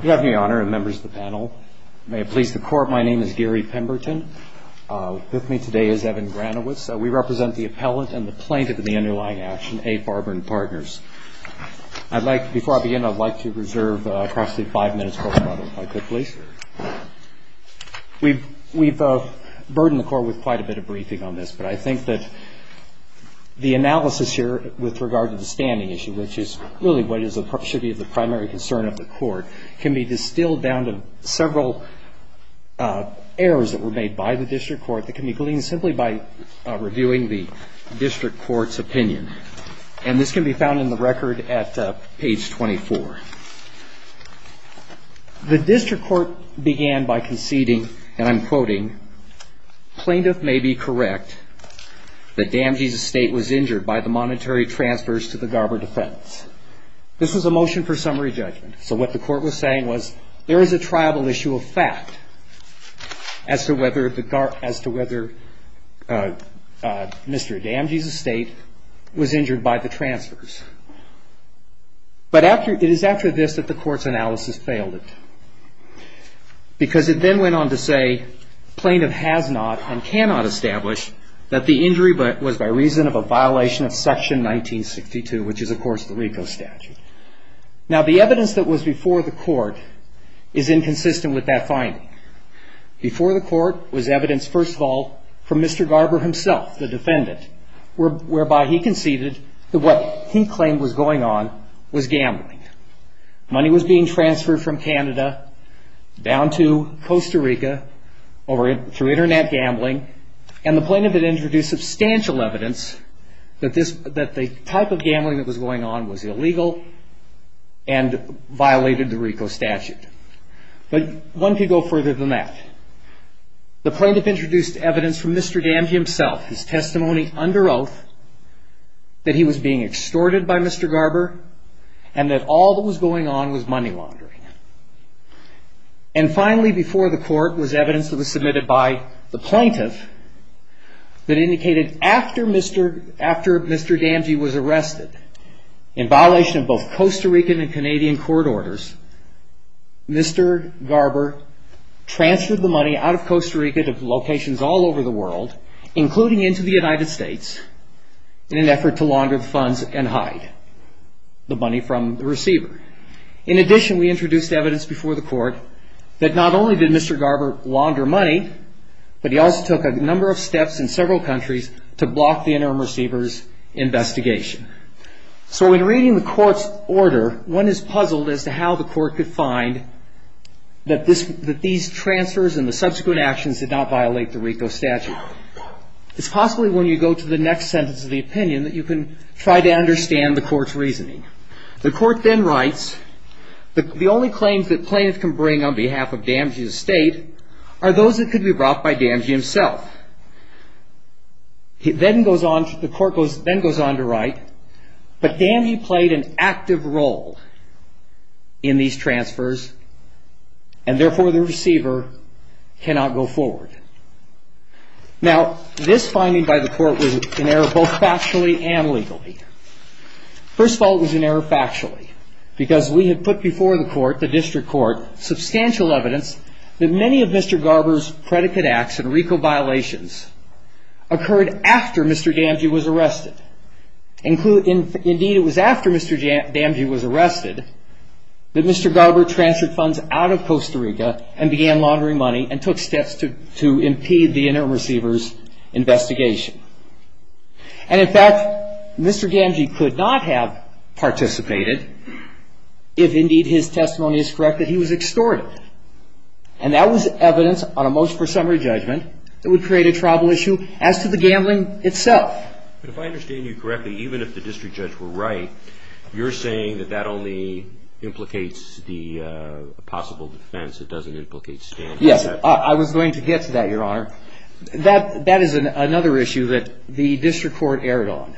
Good afternoon, Your Honor, and members of the panel. May it please the Court, my name is Gary Pemberton. With me today is Evan Granowitz. We represent the appellant and the plaintiff in the underlying action, A. Farber & Partners. Before I begin, I'd like to reserve across the five minutes for rebuttal, if I could please. We've burdened the Court with quite a bit of briefing on this, but I think that the analysis here with regard to the standing issue, which is really what should be the primary concern of the Court, can be distilled down to several errors that were made by the District Court that can be gleaned simply by reviewing the District Court's opinion. And this can be found in the record at page 24. The District Court began by conceding, and I'm quoting, plaintiff may be correct, the Damges estate was injured by the monetary transfers to the Garber defense. This was a motion for summary judgment. So what the Court was saying was, there is a tribal issue of fact as to whether Mr. Damges' estate was injured by the transfers. But it is after this that the Court's analysis failed it. Because it then went on to say, plaintiff has not and cannot establish that the injury was by reason of a violation of Section 1962, which is, of course, the RICO statute. Now, the evidence that was before the Court is inconsistent with that finding. Before the Court was evidence, first of all, from Mr. Garber himself, the defendant, whereby he conceded that what he claimed was going on was gambling. Money was being transferred from Canada down to Costa Rica through internet gambling. And the plaintiff had introduced substantial evidence that the type of gambling that was going on was illegal and violated the RICO statute. But one could go further than that. The plaintiff introduced evidence from Mr. Damges himself, his testimony under oath, that he was being extorted by Mr. Garber, and that all that was going on was money laundering. And finally, before the Court, was evidence that was submitted by the plaintiff that indicated after Mr. Damges was arrested, in violation of both Costa Rican and Canadian court orders, Mr. Garber transferred the money out of Costa Rica to locations all over the world, including into the United States, in an effort to launder the funds and hide the money from the receiver. In addition, we introduced evidence before the Court that not only did Mr. Garber launder money, but he also took a number of steps in several countries to block the interim receiver's investigation. So in reading the Court's order, one is puzzled as to how the Court could find that these transfers and the subsequent actions did not violate the RICO statute. It's possibly when you go to the next sentence of the opinion that you can try to understand the Court's reasoning. The Court then writes, the only claims that plaintiff can bring on behalf of Damges' estate are those that could be brought by Damges himself. The Court then goes on to write, but Damges played an active role in these transfers, and therefore the receiver cannot go forward. Now, this finding by the Court was an error both factually and legally. First of all, it was an error factually, because we had put before the District Court substantial evidence that many of Mr. Garber's predicate acts and RICO violations occurred after Mr. Damges was arrested. Indeed, it was after Mr. Damges was arrested that Mr. Garber transferred funds out of Costa Rica and began laundering money and took steps to impede the interim receiver's investigation. And in fact, Mr. Damges could not have participated if indeed his testimony is correct that he was extorted. And that was evidence on a most presumptive judgment that would create a tribal issue as to the gambling itself. But if I understand you correctly, even if the District Judge were right, you're saying that that only implicates the possible defense. It doesn't implicate standoff. Yes, I was going to get to that, Your Honor. That is another issue that the District Court erred on.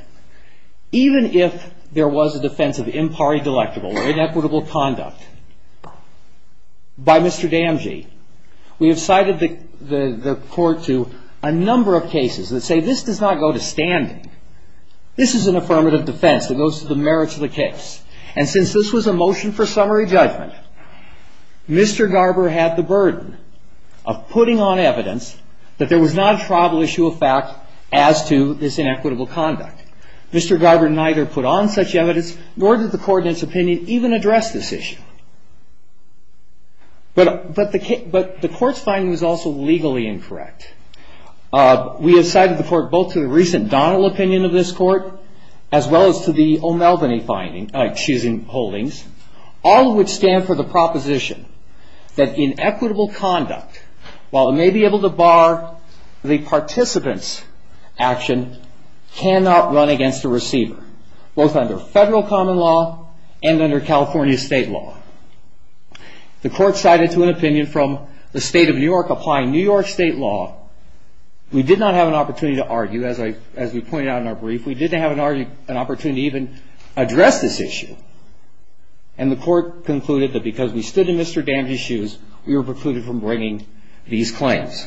Even if there was a defense of impari delectable or inequitable conduct by Mr. Damges, we have cited the court to a number of cases that say, this does not go to standing. This is an affirmative defense. It goes to the merits of the case. And since this was a motion for summary judgment, Mr. Garber had the burden of putting on evidence that there was not a tribal issue of fact as to this inequitable conduct. Mr. Garber neither put on such evidence, nor did the coordinate's opinion even address this issue. But the court's finding was also legally incorrect. We have cited the court both to the recent Donnell opinion of this court, as well as to the O'Melveny choosing holdings, all of which stand for the proposition that inequitable conduct, while it may be able to bar the participant's action, cannot run against a receiver, both under federal common law and under California state law. The court cited to an opinion from the state of New York applying New York state law. We did not have an opportunity to argue, as we pointed out in our brief. We didn't have an opportunity to even address this issue. And the court concluded that because we stood in Mr. Damges' shoes, we were precluded from bringing these claims.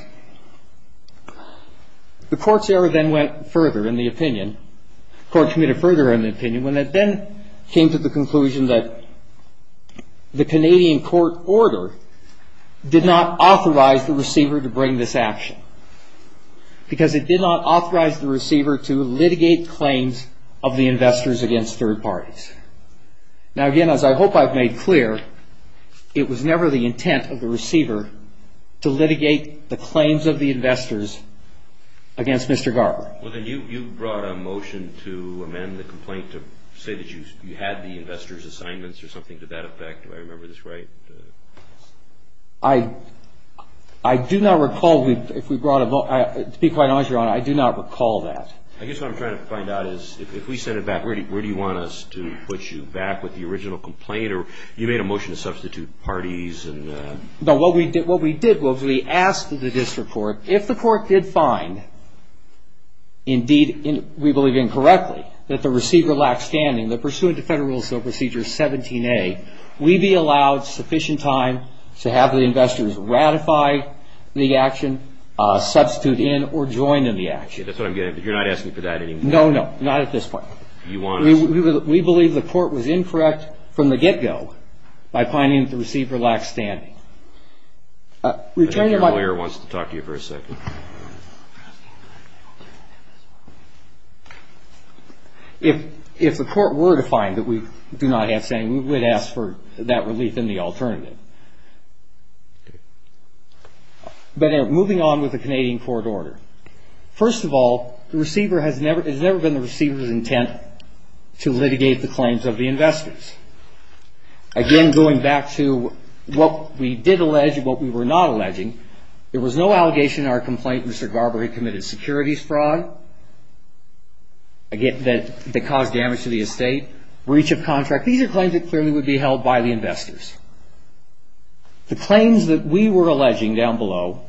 The court's error then went further in the opinion. When it then came to the conclusion that the Canadian court order did not authorize the receiver to bring this action, because it did not authorize the receiver to litigate claims of the investors against third parties. Now again, as I hope I've made clear, it was never the intent of the receiver to litigate the claims of the investors against Mr. Garber. Well, then you brought a motion to amend the complaint to say that you had the investors' assignments or something to that effect. Do I remember this right? I do not recall if we brought a vote. To be quite honest, Your Honor, I do not recall that. I guess what I'm trying to find out is if we send it back, where do you want us to put you back with the original complaint? Or you made a motion to substitute parties and? No, what we did was we asked the district court, if the court did find, indeed, we believe incorrectly, that the receiver lacked standing, that pursuant to Federal Rule of Procedure 17A, we be allowed sufficient time to have the investors ratify the action, substitute in, or join in the action. That's what I'm getting at. You're not asking for that anymore? No, no. Not at this point. You want us to? We believe the court was incorrect from the get-go by finding that the receiver lacked standing. Returning to my point. I think your lawyer wants to talk to you for a second. If the court were to find that we do not have standing, we would ask for that relief in the alternative. But moving on with the Canadian court order, first of all, the receiver has never been the receiver's intent to litigate the claims of the investors. Again, going back to what we did allege and what we were not alleging, there was no allegation in our complaint that Mr. Garber had committed securities fraud that caused damage to the estate, breach of contract. These are claims that clearly would be held by the investors. The claims that we were alleging down below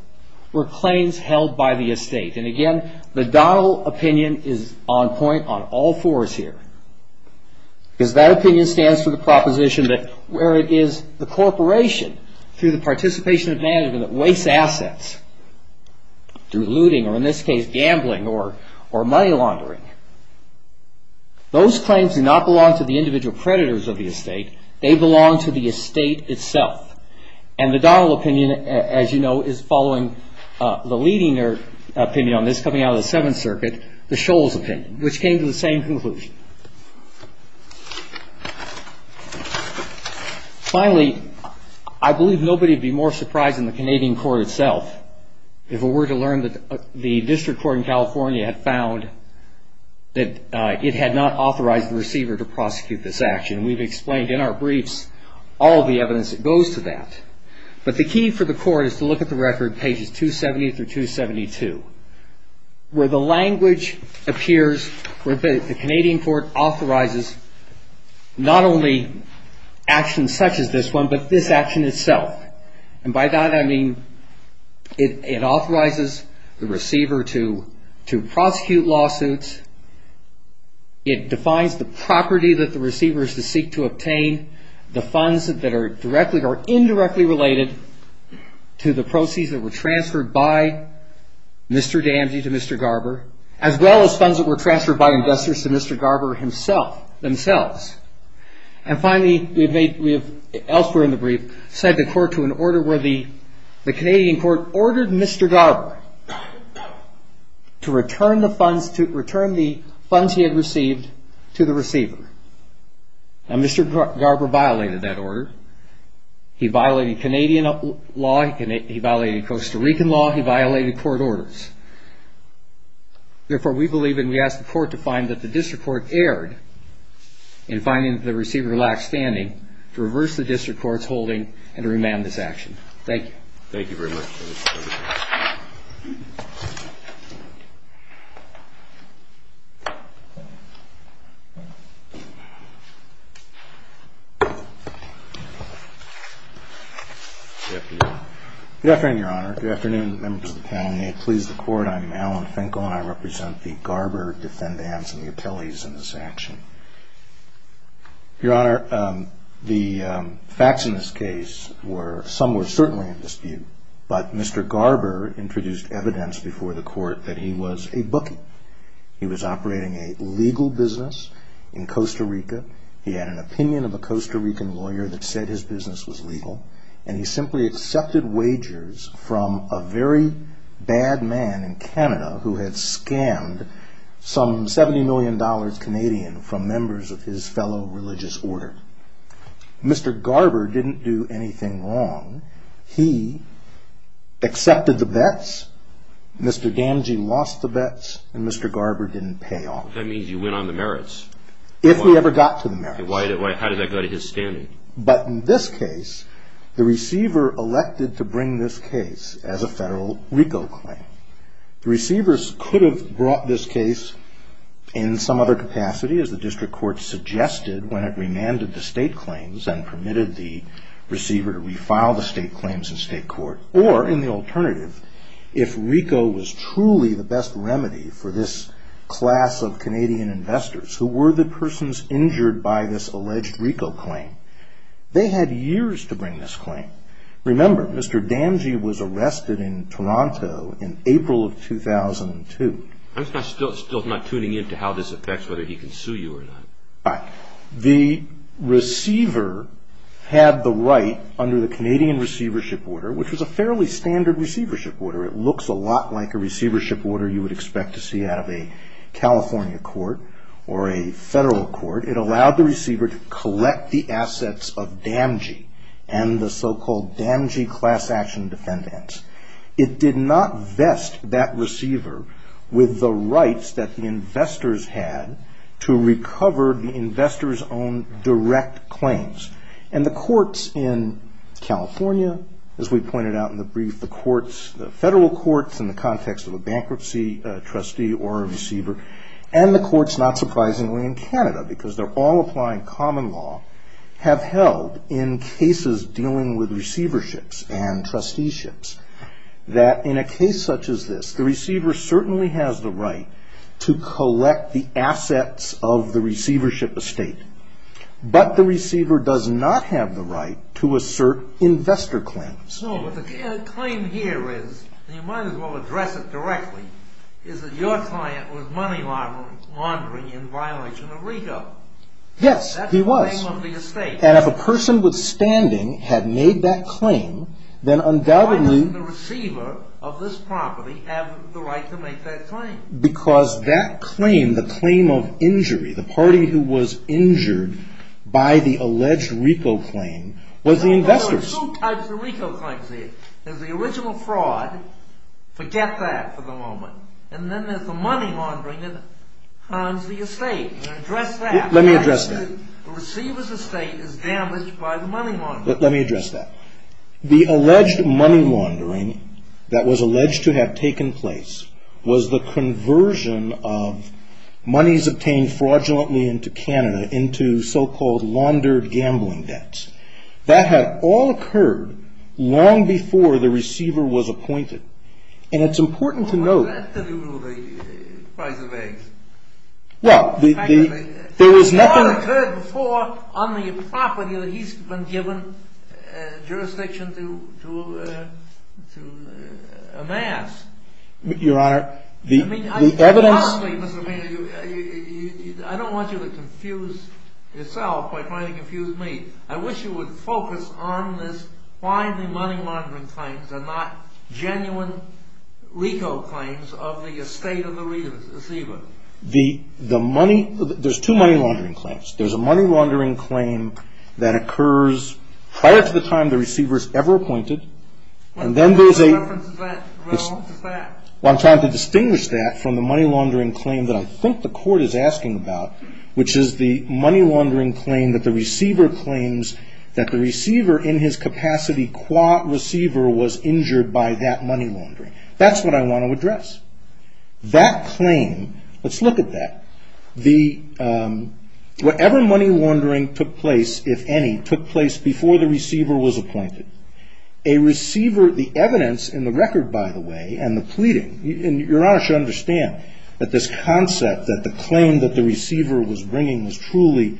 were claims held by the estate. And again, the Donald opinion is on point on all fours here. Because that opinion stands for the proposition that where it is the corporation through the participation of management that wastes assets through looting, or in this case gambling, or money laundering, those claims do not belong to the individual predators of the estate. They belong to the estate itself. And the Donald opinion, as you know, is following the leading opinion on this coming out of the Seventh Circuit, the Shoals opinion, which came to the same conclusion. Finally, I believe nobody would be more surprised than the Canadian court itself if it were to learn that the district court in California had found that it had not authorized the receiver to prosecute this action. We've explained in our briefs all the evidence that goes to that. But the key for the court is to look at the record pages 270 through 272, where the language appears, where the Canadian court authorizes not only actions such as this one, but this action itself. And by that, I mean it authorizes the receiver to prosecute lawsuits. It defines the property that the receiver is to seek to obtain, the funds that are indirectly related to the proceeds that were transferred by Mr. Damji to Mr. Garber, as well as funds that were transferred by investors to Mr. Garber himself, themselves. And finally, elsewhere in the brief, cite the court to an order where the Canadian court ordered Mr. Garber to return the funds he had received to the receiver. Now, Mr. Garber violated that order. He violated Canadian law. He violated Costa Rican law. He violated court orders. Therefore, we believe, and we ask the court to find that the district court erred in finding that the receiver lacked standing to reverse the district court's holding and to remand this action. Thank you. Thank you very much. Good afternoon, Your Honor. Good afternoon, Your Honor. Good afternoon, members of the panel. May it please the court, I'm Alan Finkel, and I represent the Garber Defendants and the Attellies in this action. Your Honor, the facts in this case were somewhat certainly in dispute, but Mr. Garber introduced evidence before the court that he was a bookie. He was operating a legal business in Costa Rica. He had an opinion of a Costa Rican lawyer that said his business was legal, and he simply accepted wagers from a very bad man in Canada who had scammed some $70 million Canadian from members of his fellow religious order. Mr. Garber didn't do anything wrong. He accepted the bets. Mr. Gamgee lost the bets, and Mr. Garber didn't pay off. If we ever got to the merits. How does that go to his standing? But in this case, the receiver elected to bring this case as a federal RICO claim. The receivers could have brought this case in some other capacity, as the district court suggested when it remanded the state claims and permitted the receiver to refile the state claims in state court. Or in the alternative, if RICO was truly the best remedy for this class of Canadian investors who were the persons injured by this alleged RICO claim, they had years to bring this claim. Remember, Mr. Gamgee was arrested in Toronto in April of 2002. I'm still not tuning in to how this affects whether he can sue you or not. The receiver had the right under the Canadian receivership order, which was a fairly standard receivership order. It looks a lot like a receivership order you would expect to see out of a California court or a federal court. It allowed the receiver to collect the assets of Gamgee and the so-called Gamgee class action defendants. It did not vest that receiver with the rights that the investors had to recover the investors' own direct claims. And the courts in California, as we pointed out in the brief, the courts, the federal courts in the context of a bankruptcy trustee or a receiver, and the courts, not surprisingly, in Canada, because they're all applying common law, have held in cases dealing with receiverships and trusteeships that in a case such as this, the receiver certainly has the right to collect the assets of the receivership estate. But the receiver does not have the right to assert investor claims. No, but the claim here is, you might as well address it directly, is that your client was money laundering in violation of RICO. Yes, he was. That's the name of the estate. And if a person withstanding had made that claim, then undoubtedly the receiver of this property has the right to make that claim. Because that claim, the claim of injury, the party who was injured by the alleged RICO claim was the investors. There are two types of RICO claims here. There's the original fraud. Forget that for the moment. And then there's the money laundering that harms the estate. And address that. Let me address that. The receiver's estate is damaged by the money laundering. Let me address that. The alleged money laundering that was alleged to have taken place was the conversion of monies obtained fraudulently into Canada into so-called laundered gambling debts. That had all occurred long before the receiver was appointed. And it's important to note. Well, what does that have to do with the price of eggs? Well, there was nothing. It had all occurred before on the property that he's been given jurisdiction to amass. Your Honor, the evidence. I mean, I don't want you to confuse yourself by trying to confuse me. I wish you would focus on this. Why the money laundering claims are not genuine RICO claims of the estate of the receiver. There's two money laundering claims. There's a money laundering claim that occurs prior to the time the receiver is ever appointed. And then there's a reference to that. Well, I'm trying to distinguish that from the money laundering claim that I think the court is asking about, which is the money laundering claim that the receiver claims that the receiver, in his capacity qua receiver, was injured by that money laundering. That's what I want to address. That claim, let's look at that. Whatever money laundering took place, if any, took place before the receiver was appointed. A receiver, the evidence in the record, by the way, and the pleading, your Honor should understand that this concept that the claim that the receiver was bringing was truly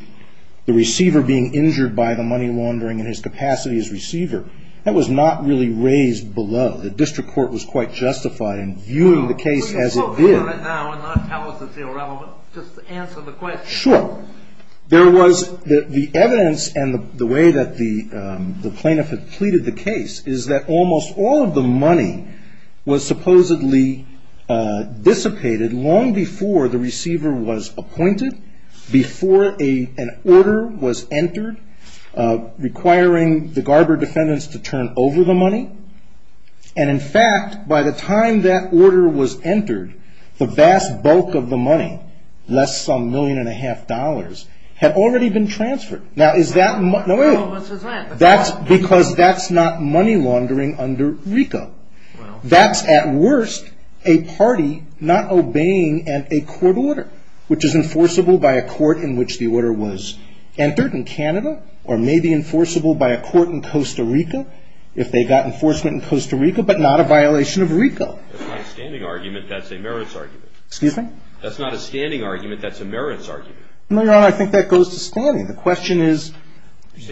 the receiver being injured by the money laundering in his capacity as receiver. That was not really raised below. The district court was quite justified in viewing the case as it did. So you're focusing on that now and not tell us it's irrelevant, just to answer the question. Sure. There was the evidence and the way that the plaintiff had pleaded the case is that almost all of the money was supposedly dissipated long before the receiver was appointed, before an order was entered requiring the Garber defendants to turn over the money. And in fact, by the time that order was entered, the vast bulk of the money, less some million and a half dollars, had already been transferred. Now, is that money laundering? Because that's not money laundering under RICO. That's, at worst, a party not obeying a court order, which is enforceable by a court in which the order was entered in Canada, or maybe enforceable by a court in Costa Rica, if they got enforcement in Costa Rica, but not a violation of RICO. That's not a standing argument. That's a merits argument. Excuse me? That's not a standing argument. That's a merits argument. No, your Honor, I think that goes to standing. The question is,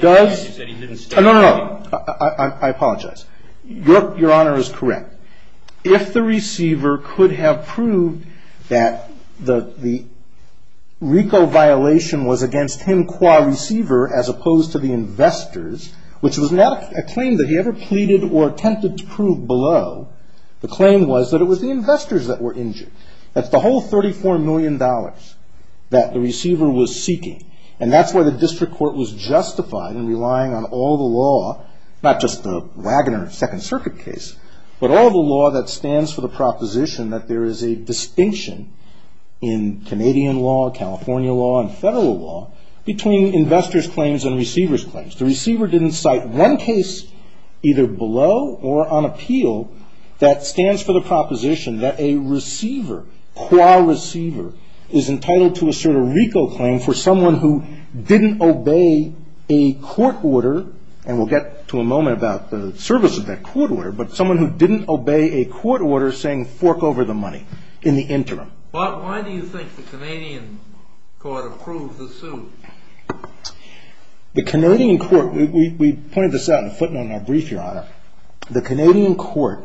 does. You said he didn't stand. No, no, no. I apologize. Your Honor is correct. If the receiver could have proved that the RICO violation was against him qua receiver, as opposed to the investors, which was not a claim that he ever pleaded or attempted to prove below, the claim was that it was the investors that were injured. That's the whole $34 million that the receiver was seeking. And that's why the district court was justified in relying on all the law, not just the Wagoner Second Circuit case, but all the law that stands for the proposition that there is a distinction in Canadian law, California law, and federal law, between investors' claims and receivers' claims. The receiver didn't cite one case, either below or on appeal, that stands for the proposition that a receiver, qua receiver, is entitled to assert a RICO claim for someone who didn't obey a court order. And we'll get to a moment about the service of that court order, but someone who didn't obey a court order saying fork over the money in the interim. Why do you think the Canadian court approved the suit? The Canadian court, we pointed this out in the footnote in our brief, Your Honor. The Canadian court,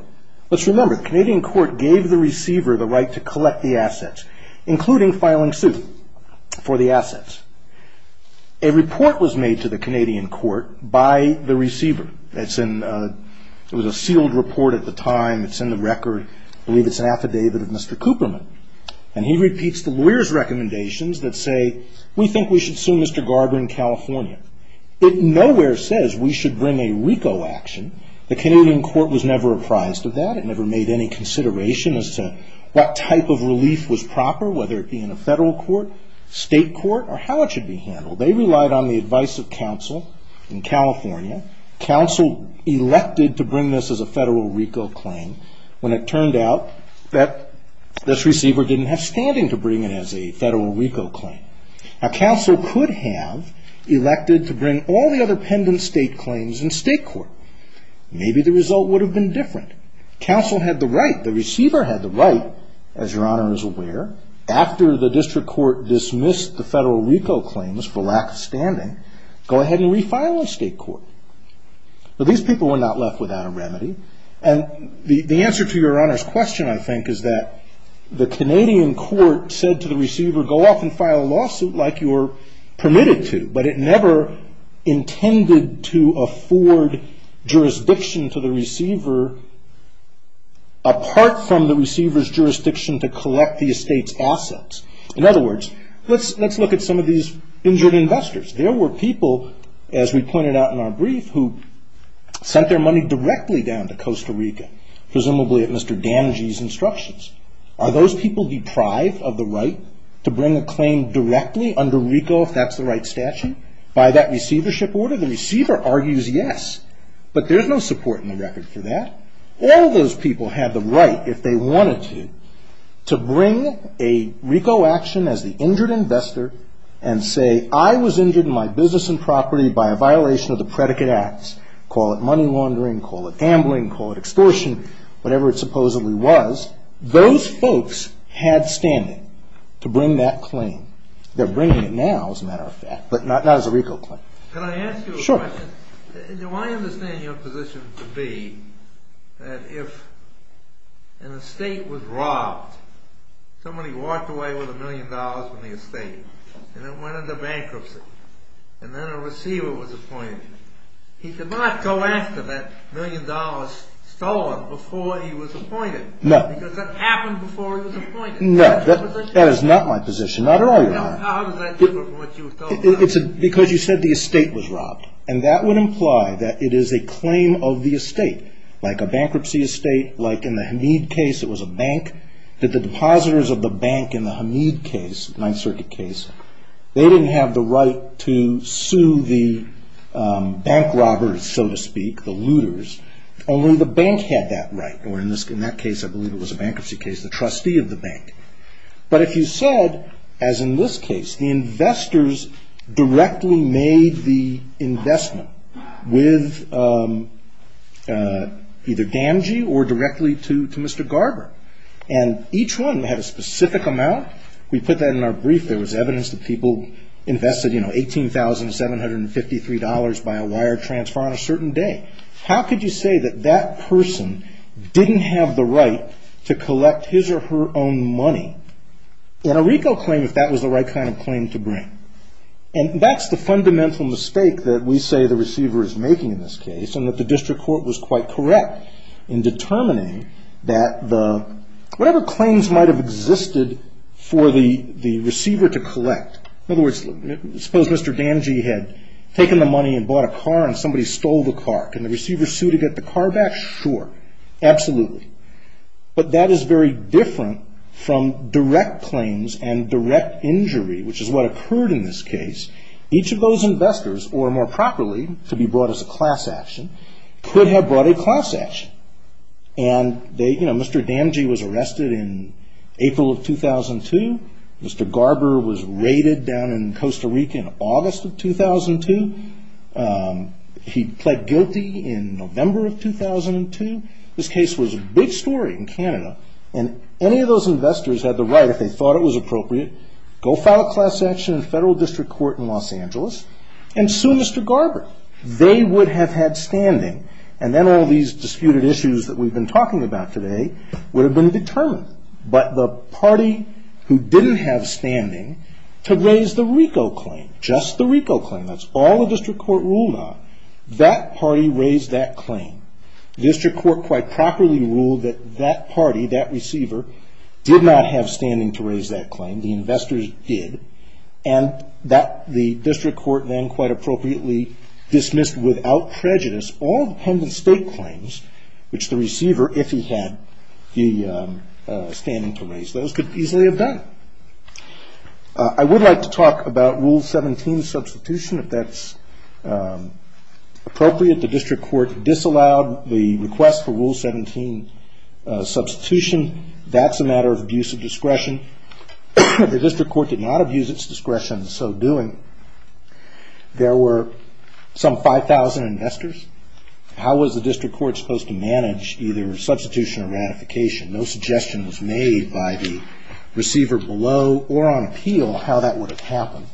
let's remember, the Canadian court gave the receiver the right to collect the assets, including filing suit for the assets. A report was made to the Canadian court by the receiver. It was a sealed report at the time. It's in the record. I believe it's an affidavit of Mr. Cooperman. And he repeats the lawyer's recommendations that say, we think we should sue Mr. Garber in California. It nowhere says we should bring a RICO action. The Canadian court was never apprised of that. It never made any consideration as to what type of relief was proper, whether it be in a federal court, state court, or how it should be handled. They relied on the advice of counsel in California. Counsel elected to bring this as a federal RICO claim when it turned out that this receiver didn't have standing to bring it as a federal RICO claim. Now, counsel could have elected to bring all the other pendent state claims in state court. Maybe the result would have been different. Counsel had the right. The receiver had the right, as Your Honor is aware, after the district court dismissed the federal RICO claims for lack of standing, go ahead and refile in state court. But these people were not left without a remedy. And the answer to Your Honor's question, I think, is that the Canadian court said to the receiver, go off and file a lawsuit like you're permitted to. But it never intended to afford jurisdiction to the receiver apart from the receiver's jurisdiction to collect the estate's assets. In other words, let's look at some of these injured investors. There were people, as we pointed out in our brief, who sent their money directly down to Costa Rica, presumably at Mr. Damagey's instructions. Are those people deprived of the right to bring a claim directly under RICO if that's the right statute by that receivership order? The receiver argues yes. But there's no support in the record for that. All those people had the right, if they wanted to, to bring a RICO action as the injured investor and say, I was injured in my business and property by a violation of the predicate acts. Call it money laundering, call it ambling, call it extortion, whatever it supposedly was. Those folks had standing to bring that claim. They're bringing it now, as a matter of fact, but not as a RICO claim. Can I ask you a question? Sure. Do I understand your position to be that if an estate was robbed, somebody walked away with a million dollars from the estate, and it went into bankruptcy, and then a receiver was appointed, he could not go after that million dollars stolen before he was appointed? No. Because that happened before he was appointed. No, that is not my position. Not at all, Your Honor. How does that differ from what you were told? Because you said the estate was robbed. And that would imply that it is a claim of the estate, like a bankruptcy estate, like in the Hamid case, it was a bank, that the depositors of the bank in the Hamid case, Ninth Circuit case, they didn't have the right to sue the bank robbers, so to speak, the looters. Only the bank had that right. Or in that case, I believe it was a bankruptcy case, the trustee of the bank. But if you said, as in this case, the investors directly made the investment with either Gamgee or directly to Mr. Garber. And each one had a specific amount. We put that in our brief. There was evidence that people invested $18,753 by a wire transfer on a certain day. How could you say that that person didn't have the right to collect his or her own money? And a RICO claim if that was the right kind of claim to bring. And that's the fundamental mistake that we say the receiver is making in this case, and that the district court was quite correct in determining that whatever claims might have existed for the receiver to collect. In other words, suppose Mr. Gamgee had taken the money and bought a car and somebody stole the car. Can the receiver sue to get the car back? Sure. Absolutely. But that is very different from direct claims and direct injury, which is what occurred in this case. Each of those investors, or more properly, to be brought as a class action, could have brought a class action. And Mr. Gamgee was arrested in April of 2002. Mr. Garber was raided down in Costa Rica in August of 2002. He pled guilty in November of 2002. This case was a big story in Canada. And any of those investors had the right, if they thought it was appropriate, go file a class action in a federal district court in Los Angeles and sue Mr. Garber. They would have had standing. And then all these disputed issues that we've been talking about today would have been determined. But the party who didn't have standing to raise the RICO claim, just the RICO claim, that's all the district court ruled on, that party raised that claim. District court quite properly ruled that that party, that receiver, did not have standing to raise that claim. The investors did. And the district court then quite appropriately dismissed, without prejudice, all dependent state claims, which the receiver, if he had the standing to raise those, could easily have done. I would like to talk about Rule 17 substitution, if that's appropriate. The district court disallowed the request for Rule 17 substitution. That's a matter of abuse of discretion. The district court did not abuse its discretion in so doing. There were some 5,000 investors. How was the district court supposed to manage either substitution or ratification? No suggestion was made by the receiver below or on appeal how that would have happened.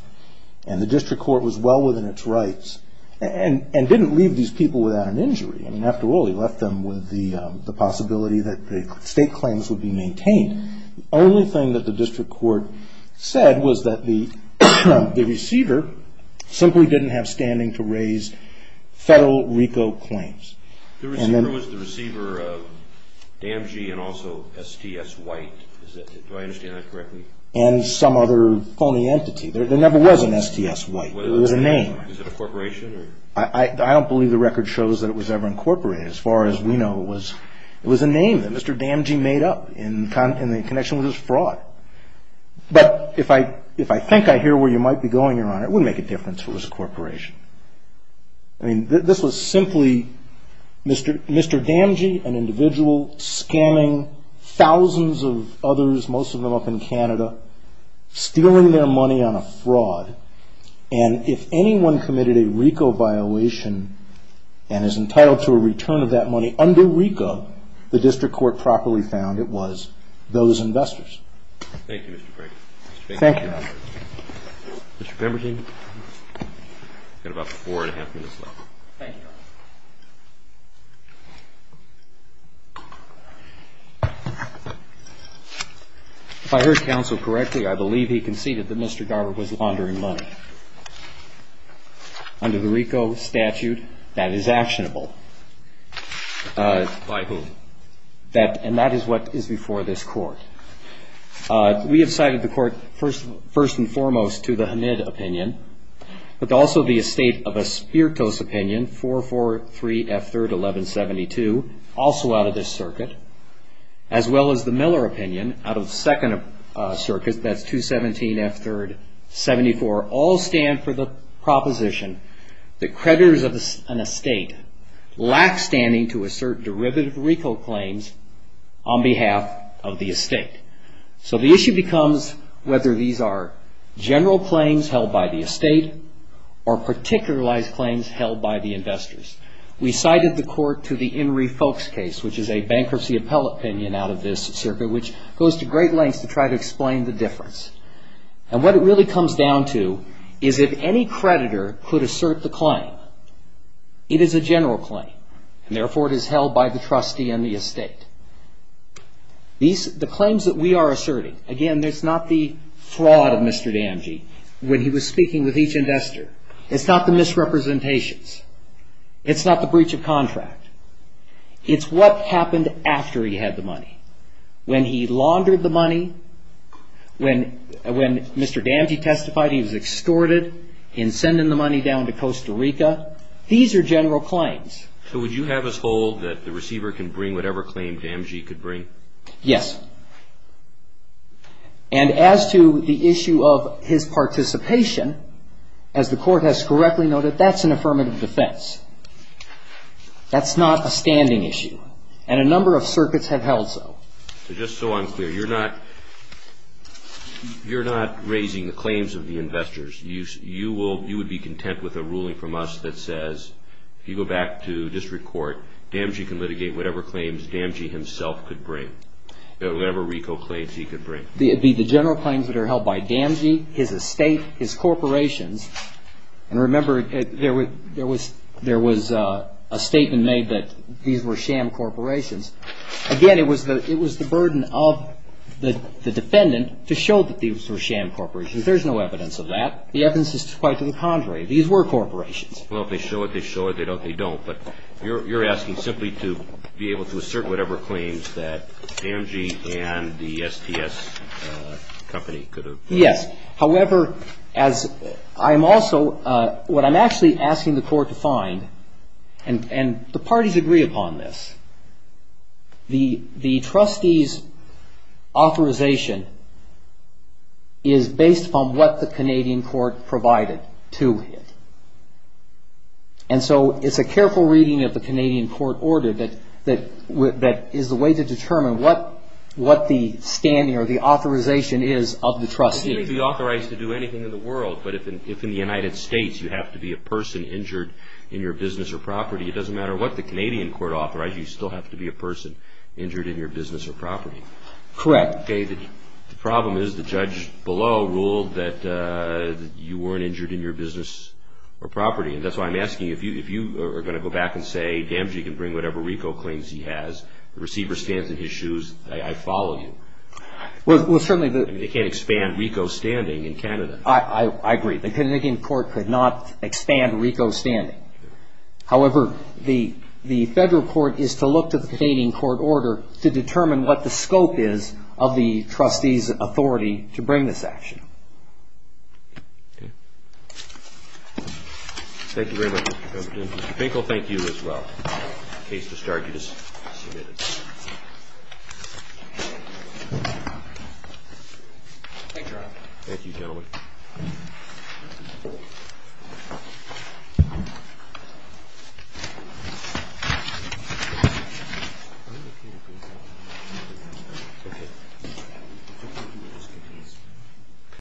And the district court was well within its rights and didn't leave these people without an injury. After all, he left them with the possibility that state claims would be maintained. Only thing that the district court said was that the receiver simply didn't have standing to raise federal RICO claims. The receiver was the receiver of DMG and also STS White. Do I understand that correctly? And some other phony entity. There never was an STS White. There was a name. Is it a corporation? I don't believe the record shows that it was ever incorporated. As far as we know, it was a name that Mr. Damji made up in the connection with his fraud. But if I think I hear where you might be going, Your Honor, it wouldn't make a difference if it was a corporation. I mean, this was simply Mr. Damji, an individual, scamming thousands of others, most of them up in Canada, stealing their money on a fraud. And if anyone committed a RICO violation and is entitled to a return of that money under RICO, the district court properly found it was those investors. Thank you, Mr. Frager. Thank you. Mr. Pemberton, you've got about four and a half minutes left. Thank you, Your Honor. If I heard counsel correctly, I believe he conceded that Mr. Garber was laundering money under the RICO statute. That is actionable. By whom? And that is what is before this court. We have cited the court first and foremost to the Hamid opinion, but also the estate of Espirito's opinion, 443 F3rd 1172, also out of this circuit, as well as the Miller opinion out of the second circuit, that's 217 F3rd 74, all stand for the proposition that creditors of an estate lack standing to assert derivative RICO claims on behalf of the estate. So the issue becomes whether these are general claims held by the estate or particularized claims held by the investors. We cited the court to the Henry Folks case, which is a bankruptcy appellate opinion out of this circuit, which goes to great lengths to try to explain the difference. And what it really comes down to is if any creditor could assert the claim, it is a general claim, and therefore it is held by the trustee and the estate. The claims that we are asserting, again, there's not the fraud of Mr. Damji when he was speaking with each investor. It's not the misrepresentations. It's what happened after he had the money. When he laundered the money, when Mr. Damji testified, he was extorted in sending the money down to Costa Rica. These are general claims. So would you have us hold that the receiver can bring whatever claim Damji could bring? Yes. And as to the issue of his participation, as the court has correctly noted, that's an affirmative defense. That's not a standing issue. And a number of circuits have held so. Just so I'm clear, you're not raising the claims of the investors. You would be content with a ruling from us that says, if you go back to district court, Damji can litigate whatever claims Damji himself could bring, whatever RICO claims he could bring. The general claims that are held by Damji, his estate, his corporations. And remember, there was a statement made that these were sham corporations. Again, it was the burden of the defendant to show that these were sham corporations. There's no evidence of that. The evidence is quite to the contrary. These were corporations. Well, if they show it, they show it. If they don't, they don't. But you're asking simply to be able to assert whatever claims that Damji and the STS company could have brought. Yes. However, what I'm actually asking the court to find, and the parties agree upon this, the trustee's authorization is based upon what the Canadian court provided to it. And so it's a careful reading of the Canadian court order that is a way to determine what the standing or the authorization is of the trustee. You can be authorized to do anything in the world. But if in the United States, you have to be a person injured in your business or property, it doesn't matter what the Canadian court authorized, you still have to be a person injured in your business or property. Correct. The problem is the judge below ruled that you weren't injured in your business or property. And that's why I'm asking, if you are going to go back and say, Damji can bring whatever RICO claims he has, the receiver stands in his shoes, I follow you. Well, certainly the- They can't expand RICO standing in Canada. I agree. The Canadian court could not expand RICO standing. However, the federal court is to look to the Canadian court order to determine what the scope is of the trustee's authority to bring this action. Thank you very much, Mr. Binkle. Thank you as well. Thank you, Your Honor. Thank you, gentlemen.